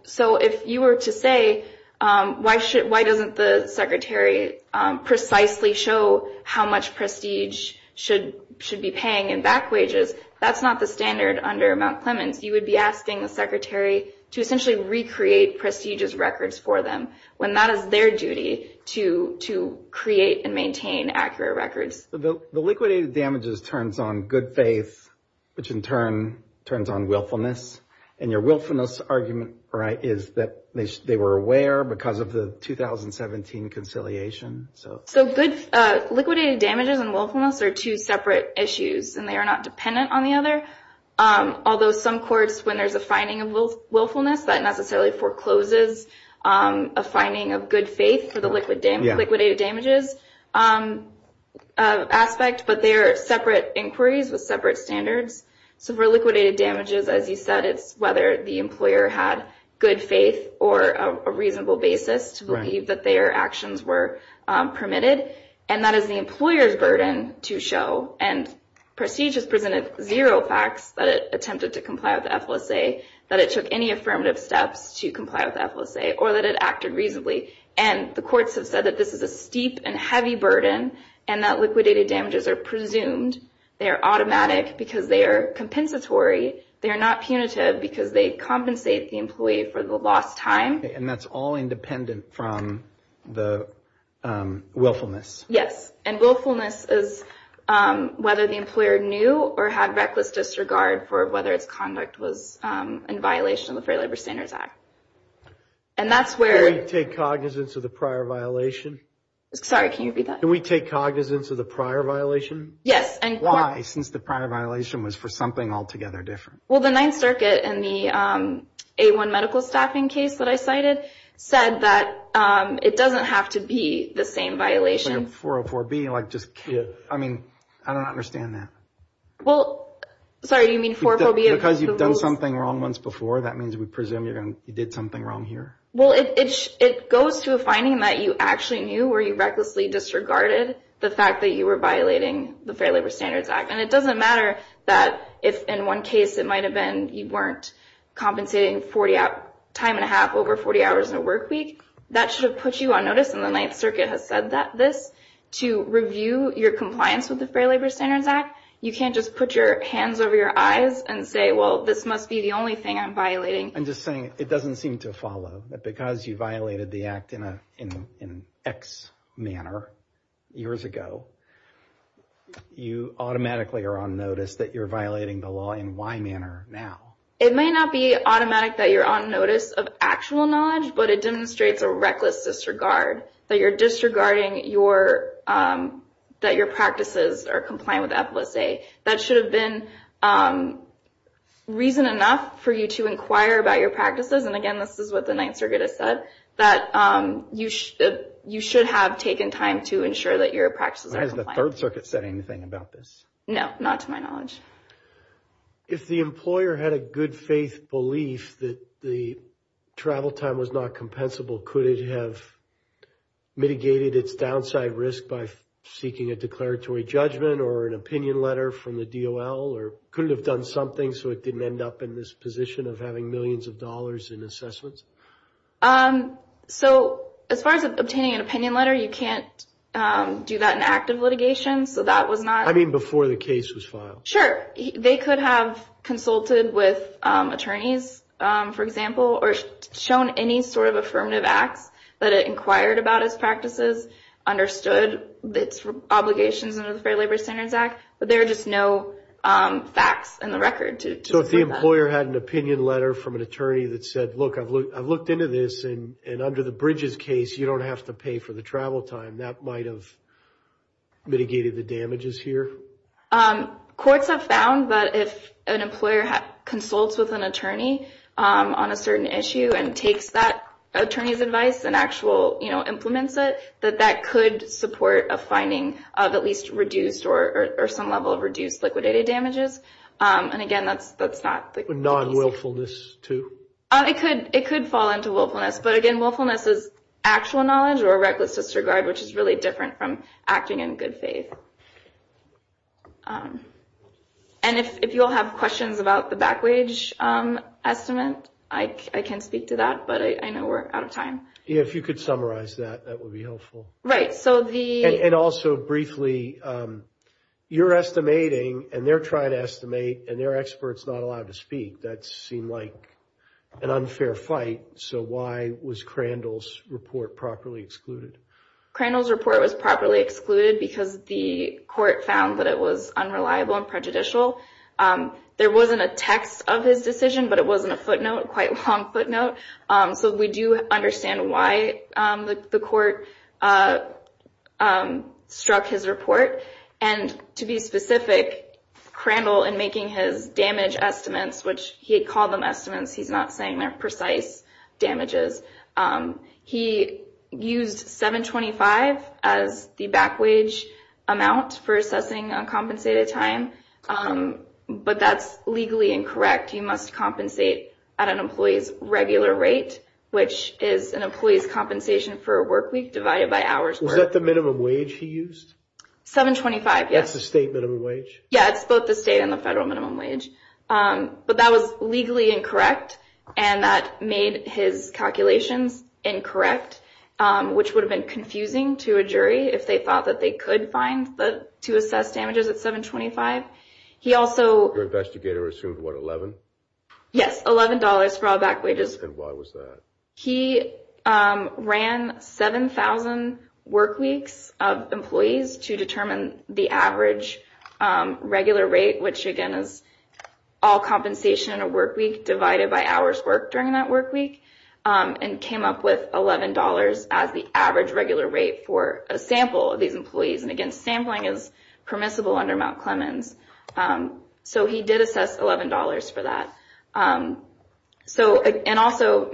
So if you were to say, why doesn't the secretary precisely show how much Prestige should be paying in back wages, that's not the standard under Mount Clemens. You would be asking the secretary to essentially recreate Prestige's records for them when that is their duty to create and maintain accurate records. The liquidated damages turns on good faith, which in turn turns on willfulness, and your willfulness argument is that they were aware because of the 2017 conciliation. So liquidated damages and willfulness are two separate issues, and they are not dependent on the other. Although some courts, when there's a finding of willfulness, that necessarily forecloses a finding of good faith for the liquidated damages aspect, but they are separate inquiries with separate standards. So for liquidated damages, as you said, it's whether the employer had good faith or a reasonable basis to believe that their actions were permitted, and that is the employer's burden to show. And Prestige has presented zero facts that it attempted to comply with FLSA, that it took any affirmative steps to comply with FLSA, or that it acted reasonably. And the courts have said that this is a steep and heavy burden, and that liquidated damages are presumed. They are automatic because they are compensatory. They are not punitive because they compensate the employee for the lost time. And that's all independent from the willfulness. Yes, and willfulness is whether the employer knew or had reckless disregard for whether its conduct was in violation of the Fair Labor Standards Act. Can we take cognizance of the prior violation? Sorry, can you repeat that? Can we take cognizance of the prior violation? Yes. Why, since the prior violation was for something altogether different? Well, the Ninth Circuit in the A1 medical staffing case that I cited said that it doesn't have to be the same violation. 404B, like just, I mean, I don't understand that. Well, sorry, you mean 404B of the rules? Because you've done something wrong once before, that means we presume you did something wrong here? Well, it goes to a finding that you actually knew where you recklessly disregarded the fact that you were violating the Fair Labor Standards Act. And it doesn't matter that if in one case it might have been you weren't compensating time and a half over 40 hours in a work week. That should have put you on notice, and the Ninth Circuit has said this. To review your compliance with the Fair Labor Standards Act, you can't just put your hands over your eyes and say, well, this must be the only thing I'm violating. I'm just saying it doesn't seem to follow that because you violated the act in an X manner, years ago, you automatically are on notice that you're violating the law in Y manner now. It may not be automatic that you're on notice of actual knowledge, but it demonstrates a reckless disregard, that you're disregarding that your practices are compliant with EPLSA. That should have been reason enough for you to inquire about your practices, and again, this is what the Ninth Circuit has said, that you should have taken time to ensure that your practices are compliant. Has the Third Circuit said anything about this? No, not to my knowledge. If the employer had a good faith belief that the travel time was not compensable, could it have mitigated its downside risk by seeking a declaratory judgment or an opinion letter from the DOL, or could it have done something so it didn't end up in this position of having millions of dollars in assessments? So, as far as obtaining an opinion letter, you can't do that in active litigation, so that was not... I mean, before the case was filed. Sure. They could have consulted with attorneys, for example, or shown any sort of affirmative acts that it inquired about its practices, understood its obligations under the Fair Labor Standards Act, but there are just no facts in the record to support that. If the employer had an opinion letter from an attorney that said, look, I've looked into this, and under the Bridges case, you don't have to pay for the travel time, that might have mitigated the damages here? Courts have found that if an employer consults with an attorney on a certain issue and takes that attorney's advice and actual implements it, that that could support a finding of at least reduced or some level of reduced liquidated damages. And, again, that's not the case. Non-willfulness too? It could fall into willfulness, but, again, willfulness is actual knowledge or a reckless disregard, which is really different from acting in good faith. And if you all have questions about the backwage estimate, I can speak to that, but I know we're out of time. Yeah, if you could summarize that, that would be helpful. Right, so the... And also, briefly, you're estimating and they're trying to estimate and they're experts not allowed to speak. That seemed like an unfair fight, so why was Crandall's report properly excluded? Crandall's report was properly excluded because the court found that it was unreliable and prejudicial. There wasn't a text of his decision, but it wasn't a footnote, a quite long footnote. So we do understand why the court struck his report. And, to be specific, Crandall, in making his damage estimates, which he called them estimates, he's not saying they're precise damages, he used $7.25 as the backwage amount for assessing uncompensated time, but that's legally incorrect. You must compensate at an employee's regular rate, which is an employee's compensation for a work week divided by hours worked. Was that the minimum wage he used? $7.25, yes. That's the state minimum wage? Yeah, it's both the state and the federal minimum wage. But that was legally incorrect and that made his calculations incorrect, which would have been confusing to a jury if they thought that they could find to assess damages at $7.25. He also... Yes, $11 for all backwages. And why was that? He ran 7,000 work weeks of employees to determine the average regular rate, which, again, is all compensation in a work week divided by hours worked during that work week, and came up with $11 as the average regular rate for a sample of these employees. And, again, sampling is permissible under Mount Clemens. So he did assess $11 for that. And also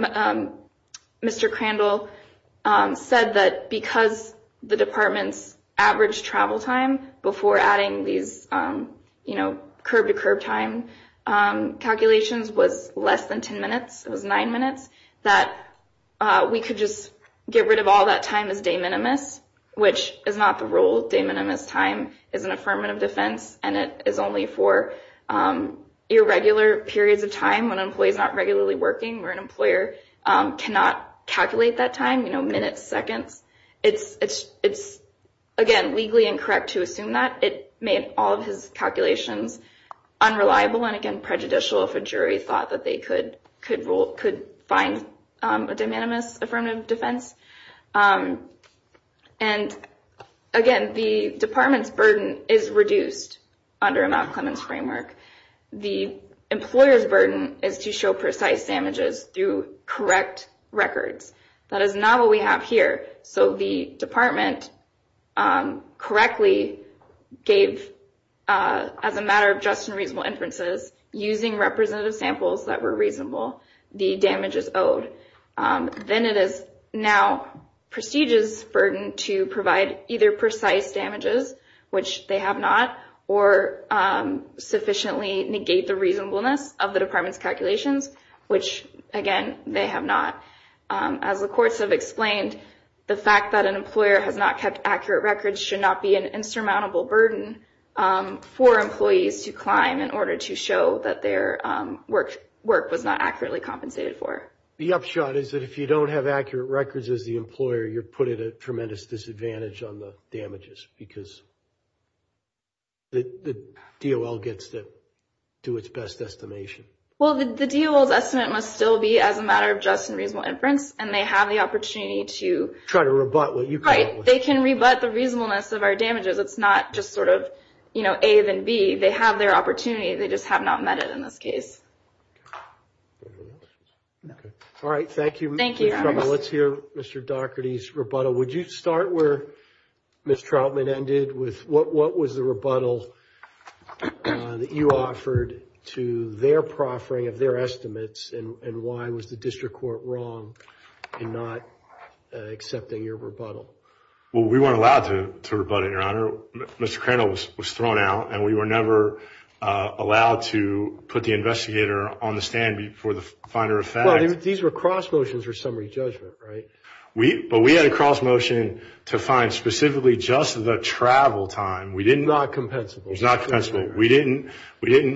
Mr. Crandall said that because the department's average travel time before adding these curb-to-curb time calculations was less than 10 minutes, it was 9 minutes, that we could just get rid of all that time as de minimis, which is not the rule. De minimis time is an affirmative defense, and it is only for irregular periods of time when an employee is not regularly working or an employer cannot calculate that time, you know, minutes, seconds. It's, again, legally incorrect to assume that. It made all of his calculations unreliable and, again, prejudicial if a jury thought that they could find a de minimis affirmative defense. And, again, the department's burden is reduced under a Mount Clemens framework. The employer's burden is to show precise damages through correct records. That is not what we have here. So the department correctly gave, as a matter of just and reasonable inferences, using representative samples that were reasonable, the damages owed. Then it is now prestigious burden to provide either precise damages, which they have not, or sufficiently negate the reasonableness of the department's calculations, which, again, they have not. As the courts have explained, the fact that an employer has not kept accurate records should not be an insurmountable burden for employees to climb in order to show that their work was not accurately compensated for. The upshot is that if you don't have accurate records as the employer, you're putting a tremendous disadvantage on the damages, because the DOL gets to do its best estimation. Well, the DOL's estimate must still be as a matter of just and reasonable inference, and they have the opportunity to… Try to rebut what you came up with. Right. They can rebut the reasonableness of our damages. It's not just sort of A then B. They have their opportunity. They just have not met it in this case. All right. Thank you. Thank you. Let's hear Mr. Daugherty's rebuttal. Would you start where Ms. Trautman ended with what was the rebuttal that you offered to their proffering of their estimates, and why was the district court wrong in not accepting your rebuttal? Well, we weren't allowed to rebut it, Your Honor. Mr. Crandall was thrown out, and we were never allowed to put the investigator on the stand for the finer of facts. Well, these were cross motions for summary judgment, right? But we had a cross motion to find specifically just the travel time. It was not compensable. It was not compensable. We didn't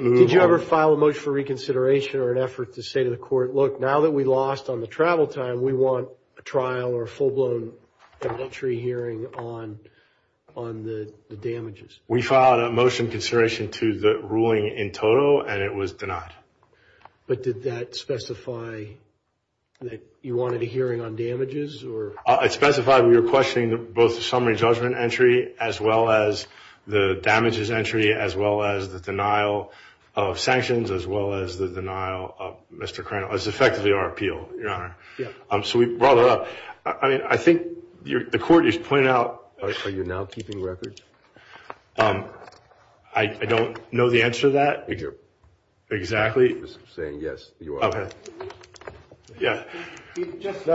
move on. Did you ever file a motion for reconsideration or an effort to say to the court, look, now that we lost on the travel time, we want a trial or a full-blown evidentiary hearing on the damages? We filed a motion in consideration to the ruling in total, and it was denied. But did that specify that you wanted a hearing on damages? It specified we were questioning both the summary judgment entry as well as the damages entry, as well as the denial of sanctions, as well as the denial of Mr. Crandall. It was effectively our appeal, Your Honor. So we brought it up. I mean, I think the court is pointing out. Are you now keeping records? I don't know the answer to that. Exactly. He's saying yes, you are. Okay. Yeah. So,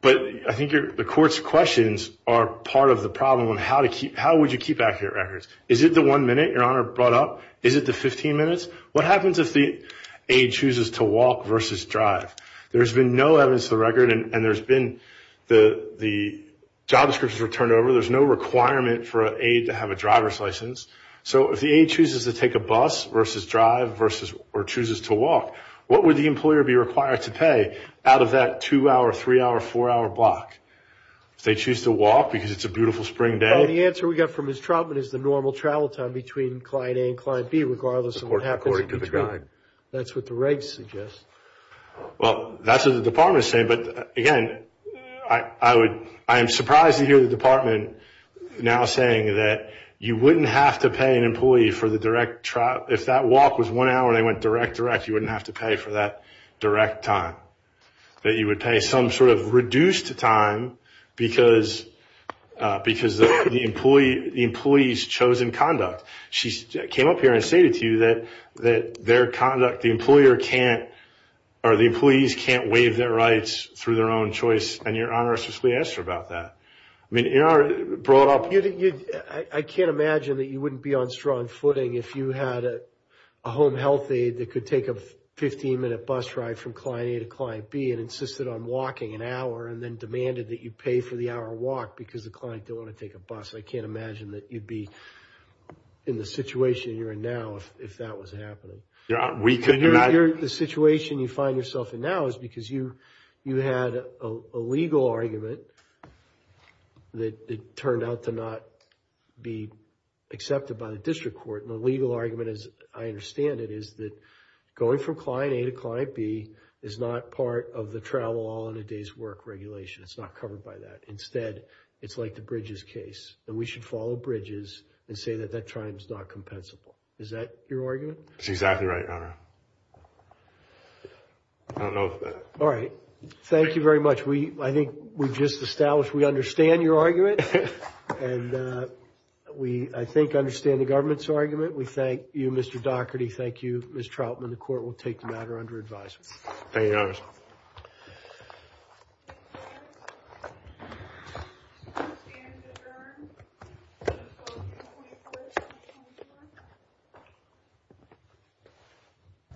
but I think the court's questions are part of the problem on how would you keep accurate records. Is it the one minute Your Honor brought up? Is it the 15 minutes? What happens if the aide chooses to walk versus drive? There's been no evidence to the record, and there's been the job descriptions were turned over. There's no requirement for an aide to have a driver's license. So if the aide chooses to take a bus versus drive or chooses to walk, what would the employer be required to pay out of that two-hour, three-hour, four-hour block? If they choose to walk because it's a beautiful spring day? The answer we got from Ms. Trautman is the normal travel time between client A and client B, regardless of what happens in between. According to the guide. That's what the regs suggest. Well, that's what the department is saying. But, again, I am surprised to hear the department now saying that you wouldn't have to pay an employee for the direct trial. If that walk was one hour and they went direct-to-direct, you wouldn't have to pay for that direct time, that you would pay some sort of reduced time because the employee's chosen conduct. She came up here and stated to you that their conduct, the employer can't, or the employees can't waive their rights through their own choice, and Your Honor, I suppose we asked her about that. I mean, Your Honor brought up. I can't imagine that you wouldn't be on strong footing if you had a home health aide that could take a 15-minute bus ride from client A to client B and insisted on walking an hour and then demanded that you pay for the hour walk because the client didn't want to take a bus. I can't imagine that you'd be in the situation you're in now if that was happening. We couldn't imagine. The situation you find yourself in now is because you had a legal argument that it turned out to not be accepted by the district court. And the legal argument, as I understand it, is that going from client A to client B is not part of the travel all-in-a-day's work regulation. It's not covered by that. Instead, it's like the Bridges case. And we should follow Bridges and say that that triumph is not compensable. Is that your argument? That's exactly right, Your Honor. I don't know. All right. Thank you very much. I think we just established we understand your argument. And we, I think, understand the government's argument. We thank you, Mr. Dougherty. Thank you, Ms. Troutman. The court will take the matter under advisement. Thank you, Your Honor. The stand is adjourned.